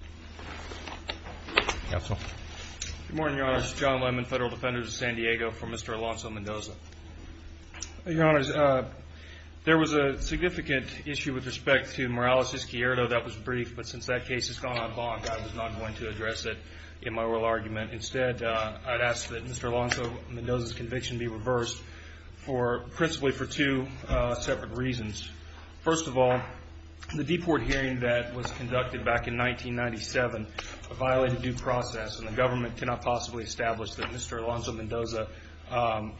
Good morning, Your Honor. This is John Lemon, Federal Defender of San Diego, for Mr. Alonzo-Mendoza. Your Honor, there was a significant issue with respect to Morales-Izquierdo that was briefed, but since that case has gone on bonk, I was not going to address it in my oral argument. Instead, I'd ask that Mr. Alonzo-Mendoza's conviction be reversed, principally for two separate reasons. First of all, the deport hearing that was conducted back in 1997 violated due process, and the government cannot possibly establish that Mr. Alonzo-Mendoza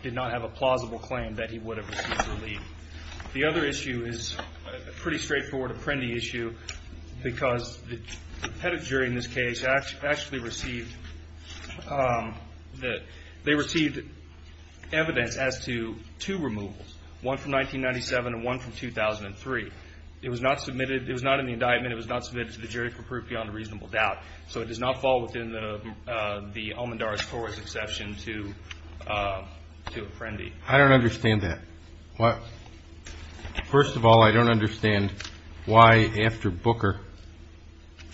did not have a plausible claim that he would have received relief. The other issue is a pretty straightforward Apprendi issue, because the head of jury in this case actually received evidence as to two removals, one from 1997 and one from 2003. It was not in the indictment. It was not submitted to the jury for proof beyond a reasonable doubt. So it does not fall within the Almendarez-Torres exception to Apprendi. I don't understand that. First of all, I don't understand why, after Booker,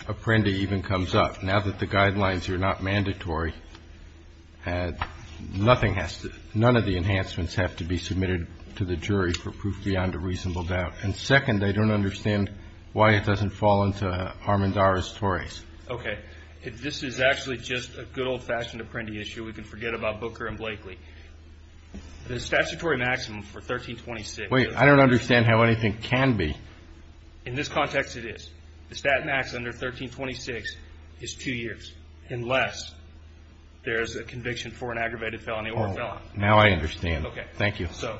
Apprendi even comes up. Now that the guidelines are not mandatory, none of the enhancements have to be submitted to the jury for proof beyond a reasonable doubt. And second, I don't understand why it doesn't fall into Almendarez-Torres. Okay. If this is actually just a good old-fashioned Apprendi issue, we can forget about Booker and Blakely. The statutory maximum for 1326 is two years. Wait. I don't understand how anything can be. In this context, it is. The stat max under 1326 is two years, unless there is a conviction for an aggravated felony or a felony. Now I understand. Okay. Thank you. So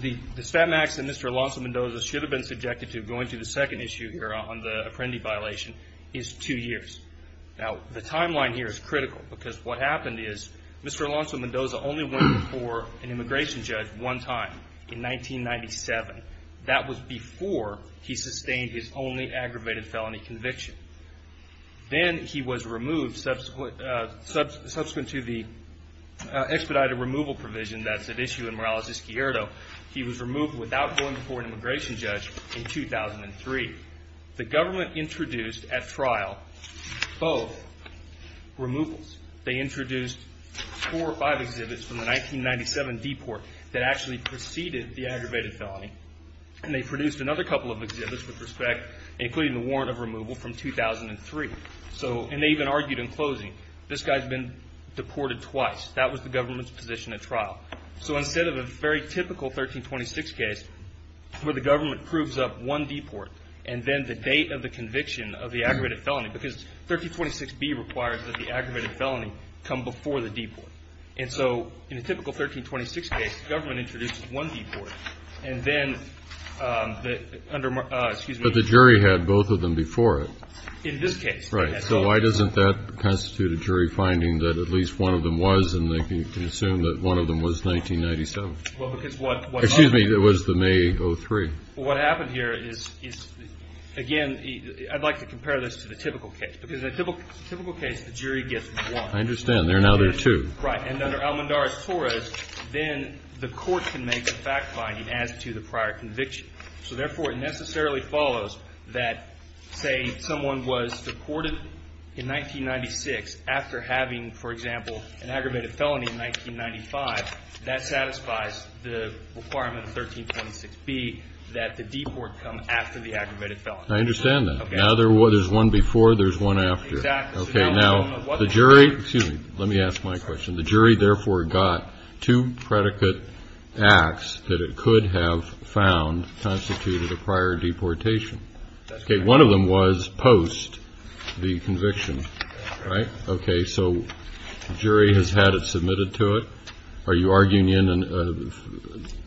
the stat max that Mr. Alonzo-Mendoza should have been subjected to going to the second issue here on the Apprendi violation is two years. Now, the timeline here is critical because what happened is Mr. Alonzo-Mendoza only went before an immigration judge one time in 1997. That was before he sustained his only aggravated felony conviction. Then he was removed subsequent to the expedited removal provision that's at issue in Morales-Escuerdo. He was removed without going before an immigration judge in 2003. The government introduced at trial both removals. They introduced four or five exhibits from the 1997 deport that actually preceded the aggravated felony, and they produced another couple of exhibits with respect, including the warrant of removal from 2003. And they even argued in closing, this guy's been deported twice. That was the government's position at trial. So instead of a very typical 1326 case where the government proves up one deport and then the date of the conviction of the aggravated felony, because 1326B requires that the aggravated felony come before the deport. And so in a typical 1326 case, the government introduces one deport, and then the under the jury had both of them before it. In this case. So why doesn't that constitute a jury finding that at least one of them was, and they can assume that one of them was 1997? Well, because what's happened? Excuse me. It was the May of 2003. Well, what happened here is, again, I'd like to compare this to the typical case. Because in a typical case, the jury gets one. I understand. Now there are two. Right. And under Almendar's torus, then the court can make a fact-finding as to the prior conviction. So therefore, it necessarily follows that, say, someone was deported in 1996 after having, for example, an aggravated felony in 1995. That satisfies the requirement of 1326B that the deport come after the aggravated felony. I understand that. Okay. Now there's one before, there's one after. Exactly. Okay. Now the jury. Excuse me. Let me ask my question. The jury, therefore, got two predicate acts that it could have found constituted a prior deportation. Okay. One of them was post the conviction. Right? Okay. So the jury has had it submitted to it. Are you arguing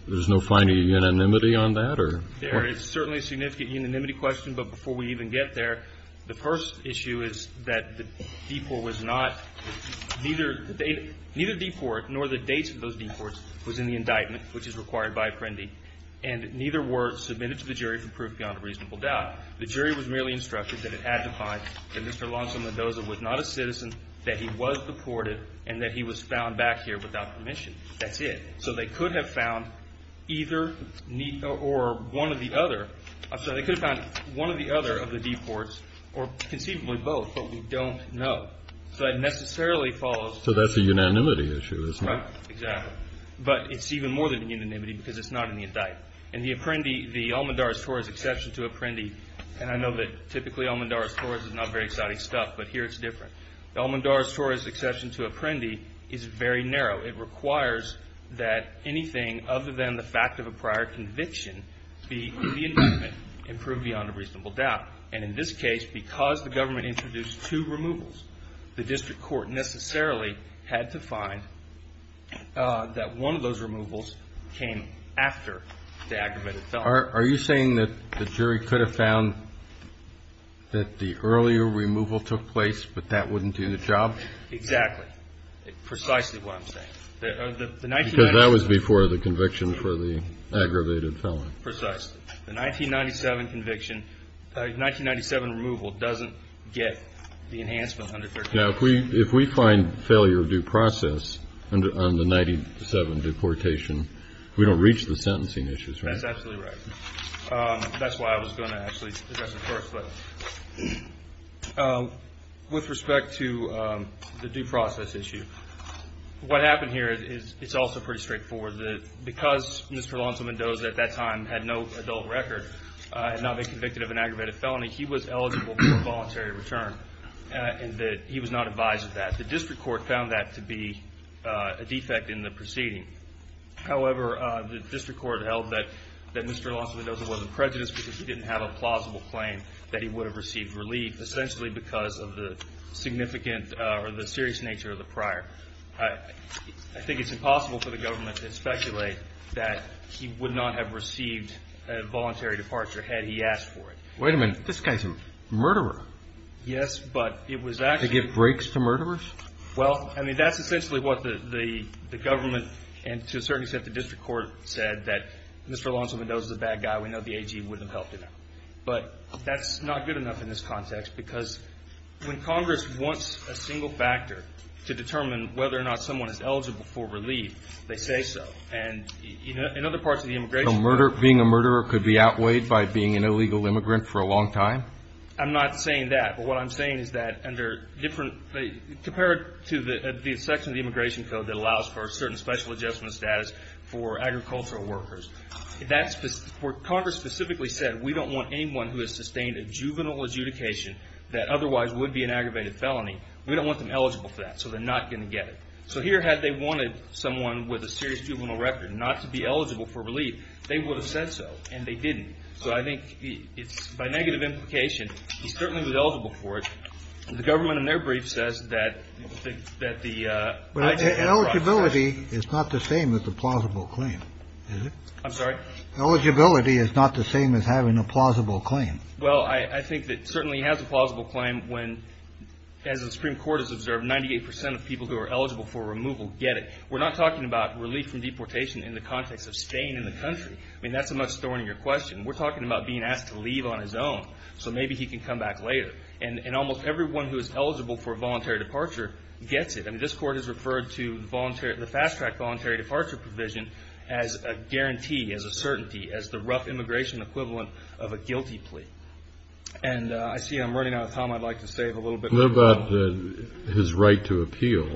there's no finding of unanimity on that? There is certainly a significant unanimity question. But before we even get there, the first issue is that the deport was not, neither the date, neither the deport nor the dates of those deports was in the indictment, which is required by Apprendi. And neither were submitted to the jury for proof beyond a reasonable doubt. The jury was merely instructed that it had to find that Mr. Alonzo Mendoza was not a citizen, that he was deported, and that he was found back here without permission. That's it. So they could have found either or one of the other. I'm sorry. They could have found one or the other of the deports, or conceivably both, but we don't know. So that necessarily follows. So that's a unanimity issue, isn't it? Right. Exactly. But it's even more than unanimity because it's not in the indictment. In the Apprendi, the Almendares-Torres exception to Apprendi, and I know that typically Almendares-Torres is not very exciting stuff, but here it's different. The Almendares-Torres exception to Apprendi is very narrow. It requires that anything other than the fact of a prior conviction be in the indictment and proved beyond a reasonable doubt. And in this case, because the government introduced two removals, the district court necessarily had to find that one of those removals came after the aggravated felony. Are you saying that the jury could have found that the earlier removal took place, but that wouldn't do the job? Exactly. Precisely what I'm saying. Because that was before the conviction for the aggravated felony. Precisely. The 1997 conviction, 1997 removal doesn't get the enhancement under 137. Now, if we find failure due process on the 97 deportation, we don't reach the sentencing issues, right? That's absolutely right. That's why I was going to actually address it first. With respect to the due process issue, what happened here is also pretty straightforward. Because Mr. Alonzo Mendoza at that time had no adult record and not been convicted of an aggravated felony, he was eligible for a voluntary return. He was not advised of that. The district court found that to be a defect in the proceeding. However, the district court held that Mr. Alonzo Mendoza wasn't prejudiced because he didn't have a plausible claim that he would have received relief, essentially because of the significant or the serious nature of the prior. I think it's impossible for the government to speculate that he would not have received a voluntary departure had he asked for it. Wait a minute. This guy's a murderer. Yes, but it was actually – To give breaks to murderers? Well, I mean, that's essentially what the government and to a certain extent the district court said that Mr. Alonzo Mendoza's a bad guy. We know the AG wouldn't have helped him out. But that's not good enough in this context because when Congress wants a single factor to determine whether or not someone is eligible for relief, they say so. And in other parts of the immigration – So being a murderer could be outweighed by being an illegal immigrant for a long time? I'm not saying that. But what I'm saying is that compared to the section of the immigration code that allows for a certain special adjustment status for agricultural workers, Congress specifically said we don't want anyone who has sustained a juvenile adjudication that otherwise would be an aggravated felony. We don't want them eligible for that, so they're not going to get it. So here had they wanted someone with a serious juvenile record not to be eligible for relief, they would have said so, and they didn't. So I think it's – by negative implication, he certainly was eligible for it. The government in their brief says that the – But eligibility is not the same as a plausible claim, is it? I'm sorry? Eligibility is not the same as having a plausible claim. Well, I think it certainly has a plausible claim when, as the Supreme Court has observed, 98 percent of people who are eligible for removal get it. We're not talking about relief from deportation in the context of staying in the country. I mean, that's a much thornier question. We're talking about being asked to leave on his own, so maybe he can come back later. And almost everyone who is eligible for voluntary departure gets it. I mean, this Court has referred to the voluntary – the fast-track voluntary departure provision as a guarantee, as a certainty, as the rough immigration equivalent of a guilty plea. And I see I'm running out of time. I'd like to save a little bit of time. What about his right to appeal?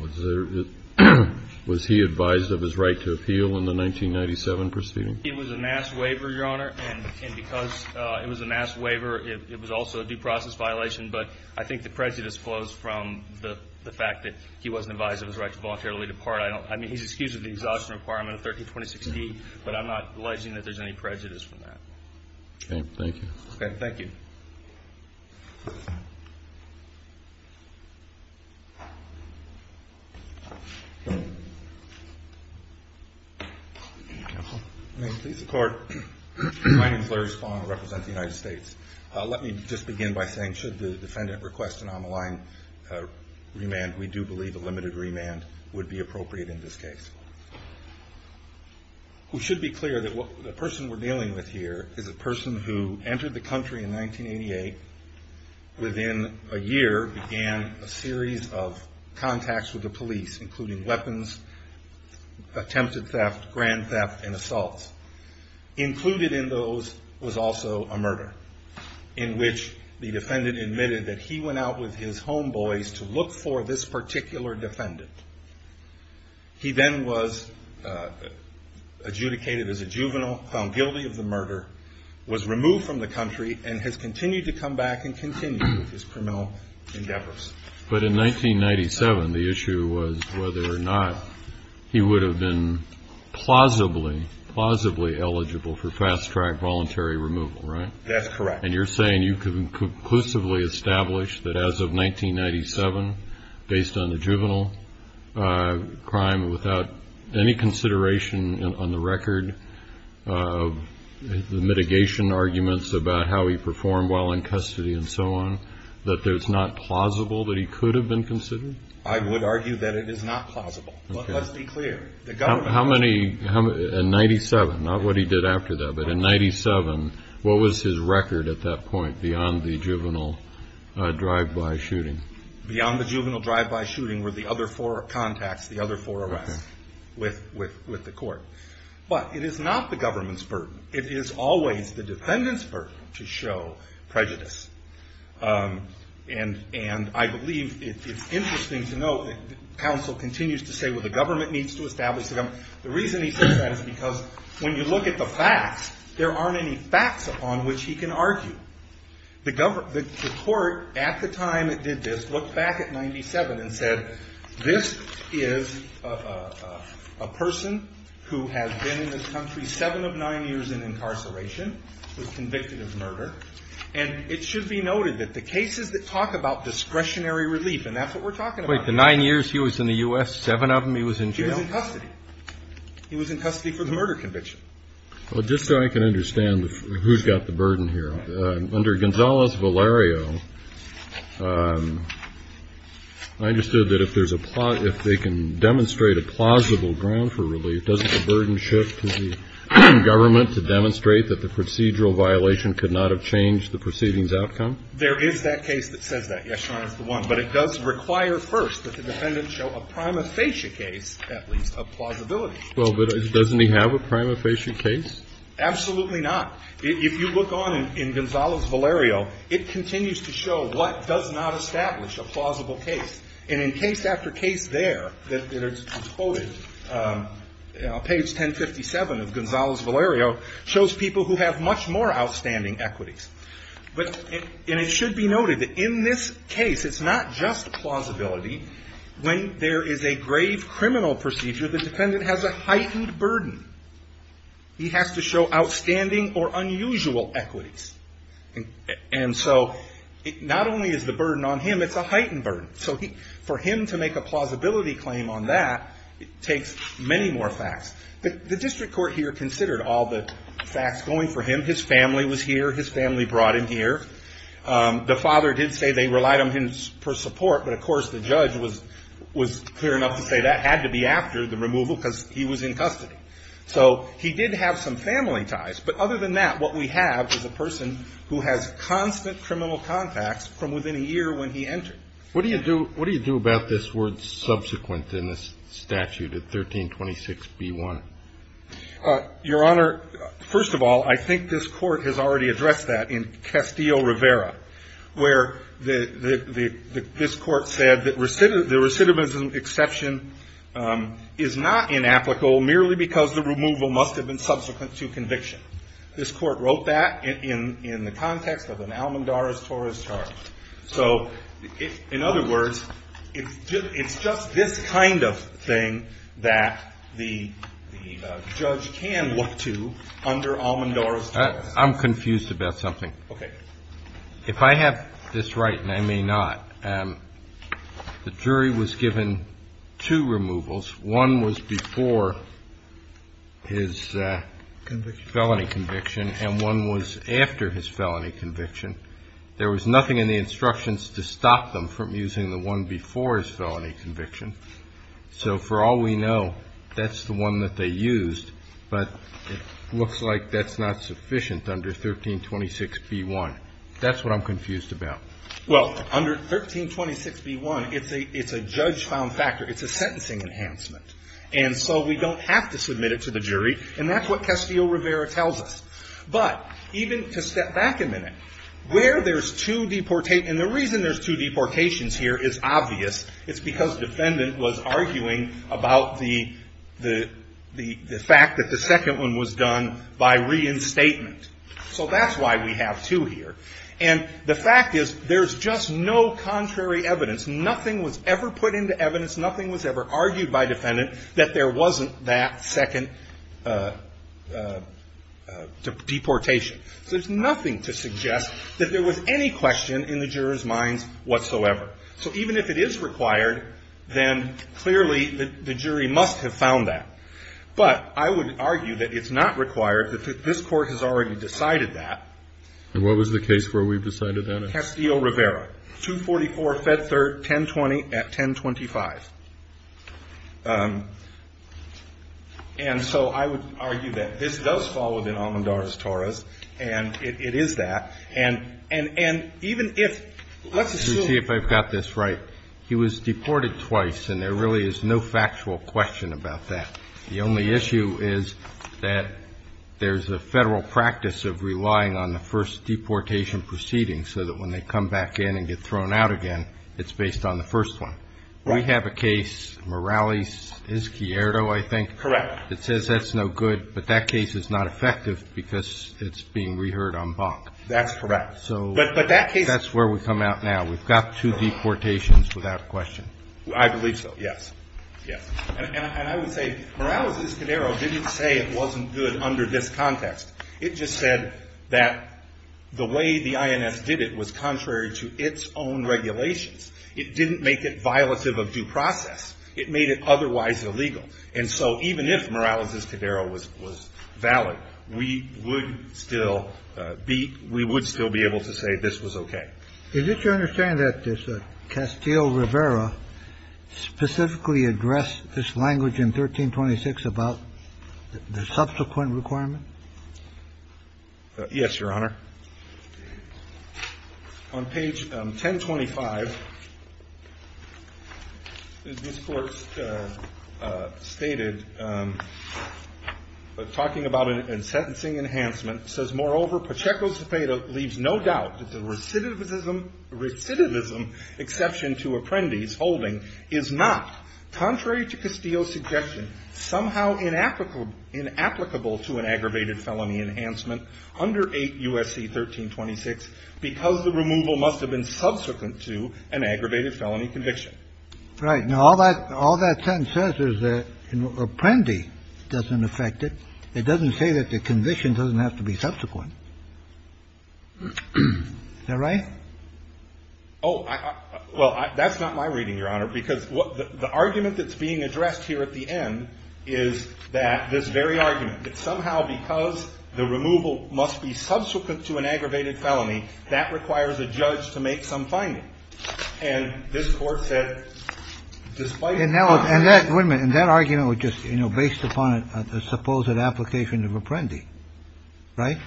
Was he advised of his right to appeal in the 1997 proceeding? It was a mass waiver, Your Honor, and because it was a mass waiver, it was also a due process violation. But I think the prejudice flows from the fact that he wasn't advised of his right to voluntarily depart. I don't – I mean, he's excused of the exhaustion requirement of 1326E, but I'm not alleging that there's any prejudice from that. Okay. Thank you. Okay. Thank you. Thank you. May it please the Court, my name is Larry Spong. I represent the United States. Let me just begin by saying should the defendant request an on-the-line remand, we do believe a limited remand would be appropriate in this case. It should be clear that the person we're dealing with here is a person who entered the country in 1988, within a year began a series of contacts with the police, including weapons, attempted theft, grand theft, and assaults. Included in those was also a murder in which the defendant admitted that he went out with his homeboys to look for this particular defendant. He then was adjudicated as a juvenile, found guilty of the murder, was removed from the country, and has continued to come back and continue his criminal endeavors. But in 1997, the issue was whether or not he would have been plausibly, plausibly eligible for fast-track voluntary removal, right? That's correct. And you're saying you can conclusively establish that as of 1997, based on the juvenile crime, without any consideration on the record of the mitigation arguments about how he performed while in custody and so on, that it's not plausible that he could have been considered? I would argue that it is not plausible. Okay. Let's be clear. How many, in 97, not what he did after that, but in 97, what was his record at that point beyond the juvenile drive-by shooting? Beyond the juvenile drive-by shooting were the other four contacts, the other four arrests with the court. But it is not the government's burden. It is always the defendant's burden to show prejudice. And I believe it's interesting to note that counsel continues to say, well, the government needs to establish the government. The reason he says that is because when you look at the facts, there aren't any facts upon which he can argue. The court, at the time it did this, looked back at 97 and said, this is a person who has been in this country seven of nine years in incarceration, was convicted of murder, and it should be noted that the cases that talk about discretionary relief, and that's what we're talking about. Wait. The nine years he was in the U.S., seven of them he was in jail? He was in custody. He was in custody for the murder conviction. Well, just so I can understand who's got the burden here, under Gonzales-Valerio, I understood that if there's a plot, if they can demonstrate a plausible ground for relief, doesn't the burden shift to the government to demonstrate that the procedural violation could not have changed the proceeding's outcome? There is that case that says that. Yes, Your Honor, it's the one. But it does require first that the defendant show a prima facie case, at least, of plausibility. Well, but doesn't he have a prima facie case? Absolutely not. If you look on in Gonzales-Valerio, it continues to show what does not establish a plausible case. And in case after case there that is quoted, page 1057 of Gonzales-Valerio, shows people who have much more outstanding equities. And it should be noted that in this case, it's not just plausibility. When there is a grave criminal procedure, the defendant has a heightened burden. He has to show outstanding or unusual equities. And so not only is the burden on him, it's a heightened burden. So for him to make a plausibility claim on that, it takes many more facts. The district court here considered all the facts going for him. His family was here. His family brought him here. The father did say they relied on him for support. But, of course, the judge was clear enough to say that had to be after the removal because he was in custody. So he did have some family ties. But other than that, what we have is a person who has constant criminal contacts from within a year when he entered. What do you do about this word subsequent in this statute at 1326b-1? Your Honor, first of all, I think this Court has already addressed that in Castillo-Rivera, where this Court said that the recidivism exception is not inapplicable merely because the removal must have been subsequent to conviction. This Court wrote that in the context of an almondares torres charge. So in other words, it's just this kind of thing that the judge can look to under almondares torres. I'm confused about something. Okay. If I have this right, and I may not, the jury was given two removals. One was before his felony conviction, and one was after his felony conviction. There was nothing in the instructions to stop them from using the one before his felony conviction. So for all we know, that's the one that they used. But it looks like that's not sufficient under 1326b-1. That's what I'm confused about. Well, under 1326b-1, it's a judge-found factor. It's a sentencing enhancement. And so we don't have to submit it to the jury, and that's what Castillo-Rivera tells us. But even to step back a minute, where there's two deportations, and the reason there's two deportations here is obvious. It's because defendant was arguing about the fact that the second one was done by reinstatement. So that's why we have two here. And the fact is, there's just no contrary evidence. Nothing was ever put into evidence. Nothing was ever argued by defendant that there wasn't that second deportation. So there's nothing to suggest that there was any question in the jurors' minds whatsoever. So even if it is required, then clearly the jury must have found that. But I would argue that it's not required, that this Court has already decided that. And what was the case where we've decided that? Castillo-Rivera. 244, Fed Third, 1020 at 1025. And so I would argue that this does fall within Almendar's Torres, and it is that. And even if let's assume ---- Let me see if I've got this right. He was deported twice, and there really is no factual question about that. The only issue is that there's a Federal practice of relying on the first deportation proceeding so that when they come back in and get thrown out again, it's based on the first one. Right. We have a case, Morales-Izquierdo, I think. Correct. It says that's no good, but that case is not effective because it's being reheard en banc. That's correct. So that's where we come out now. We've got two deportations without question. I believe so. Yes. Yes. And I would say Morales-Izquierdo didn't say it wasn't good under this context. It just said that the way the INS did it was contrary to its own regulations. It didn't make it violative of due process. It made it otherwise illegal. And so even if Morales-Izquierdo was valid, we would still be able to say this was okay. Is it your understanding that Castillo-Rivera specifically addressed this language in 1326 about the subsequent requirement? Yes, Your Honor. On page 1025, this Court stated, talking about a sentencing enhancement, says, Moreover, Pacheco-Cepeda leaves no doubt that the recidivism exception to Apprendi's holding is not, contrary to Castillo's suggestion, somehow inapplicable to an aggravated felony enhancement under 8 U.S.C. 1326 because the removal must have been subsequent to an aggravated felony conviction. Right. Now, all that sentence says is that Apprendi doesn't affect it. It doesn't say that the conviction doesn't have to be subsequent. Is that right? Oh. Well, that's not my reading, Your Honor, because the argument that's being addressed here at the end is that this very argument, that somehow because the removal must be subsequent to an aggravated felony, that requires a judge to make some finding. And this Court said, despite the fact that the removal must be subsequent to an aggravated felony, that's not an application of Apprendi. Right?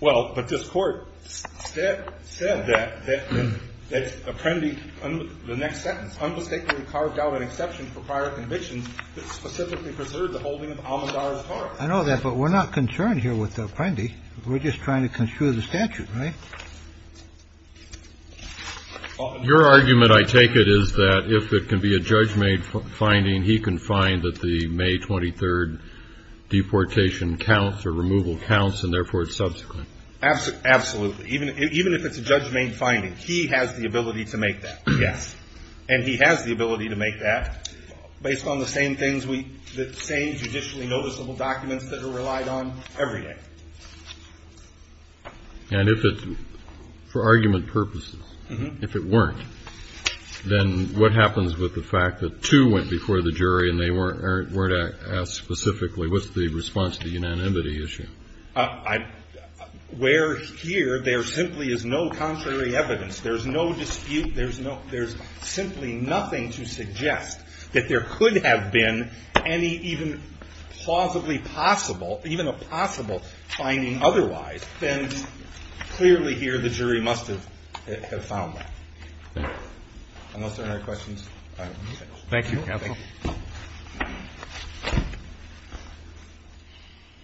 Well, but this Court said that Apprendi, the next sentence, unmistakably carved out an exception for prior convictions that specifically preserved the holding of Almodarra's part. I know that, but we're not concerned here with Apprendi. We're just trying to construe the statute, right? Your argument, I take it, is that if it can be a judge-made finding, he can find that the May 23rd deportation counts or removal counts, and therefore it's subsequent. Absolutely. Even if it's a judge-made finding, he has the ability to make that, yes. And he has the ability to make that based on the same things we – the same judicially noticeable documents that are relied on every day. And if it – for argument purposes, if it weren't, then what happens with the fact that two went before the jury and they weren't asked specifically what's the response to the unanimity issue? Where here there simply is no contrary evidence, there's no dispute, there's simply nothing to suggest that there could have been any even plausibly possible – even a possible finding otherwise, then clearly here the jury must have found that. Unless there are no questions. Thank you, counsel.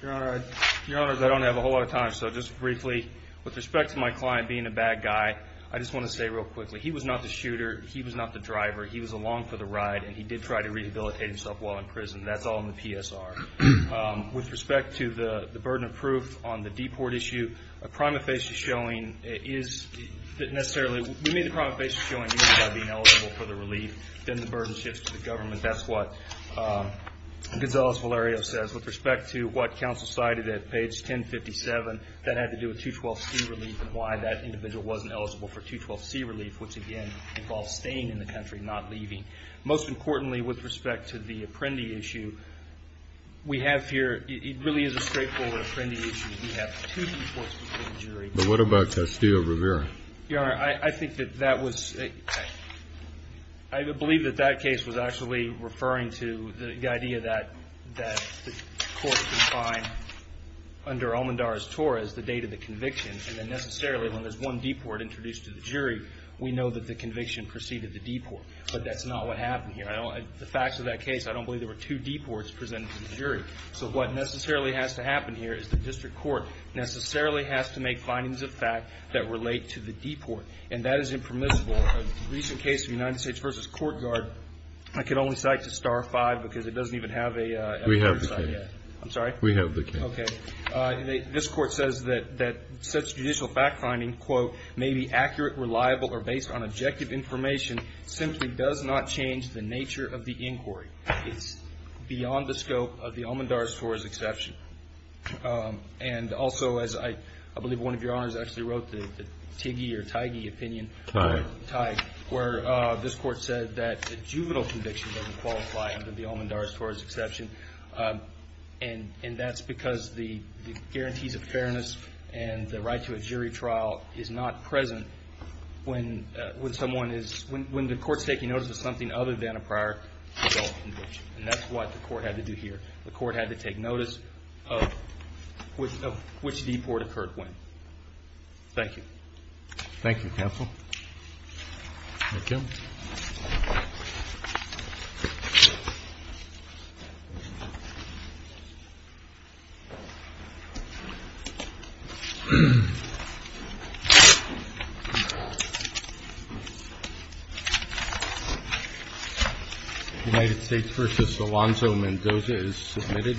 Your Honor, I don't have a whole lot of time, so just briefly, with respect to my client being a bad guy, I just want to say real quickly, he was not the shooter, he was not the driver, he was along for the ride, and he did try to rehabilitate himself while in prison. That's all in the PSR. With respect to the burden of proof on the deport issue, a prima facie showing is that necessarily – we made the prima facie showing by being eligible for the relief, then the burden shifts to the government. That's what Gonzales Valerio says. With respect to what counsel cited at page 1057, that had to do with 212C relief and why that individual wasn't eligible for 212C relief, which again involves staying in the country, not leaving. Most importantly, with respect to the Apprendi issue, we have here – it really is a straightforward Apprendi issue. We have two deports before the jury. But what about Castillo-Rivera? Your Honor, I think that that was – I believe that that case was actually referring to the idea that the court would find under Almendar's TOR as the date of the conviction, and then necessarily when there's one deport introduced to the jury, we know that the conviction preceded the deport. But that's not what happened here. The facts of that case, I don't believe there were two deports presented to the jury. So what necessarily has to happen here is the district court necessarily has to make findings of fact that relate to the deport. And that is impermissible. A recent case of United States v. Courtyard, I can only cite to Star 5 because it doesn't even have a – We have the case. I'm sorry? We have the case. Okay. This Court says that such judicial fact-finding, quote, may be accurate, reliable, or based on objective information simply does not change the nature of the inquiry. It's beyond the scope of the Almendar's TOR as exception. And also, as I believe one of your honors actually wrote, the Tigge or Tigge opinion. Right. Tigge, where this Court said that the juvenile conviction doesn't qualify under the Almendar's TOR as exception. And that's because the guarantees of fairness and the right to a jury trial is not present when someone is – when the Court's taking notice of something other than a prior adult conviction. And that's what the Court had to do here. The Court had to take notice of which deport occurred when. Thank you. Thank you, counsel. Thank you. United States v. Alonzo Mendoza is submitted.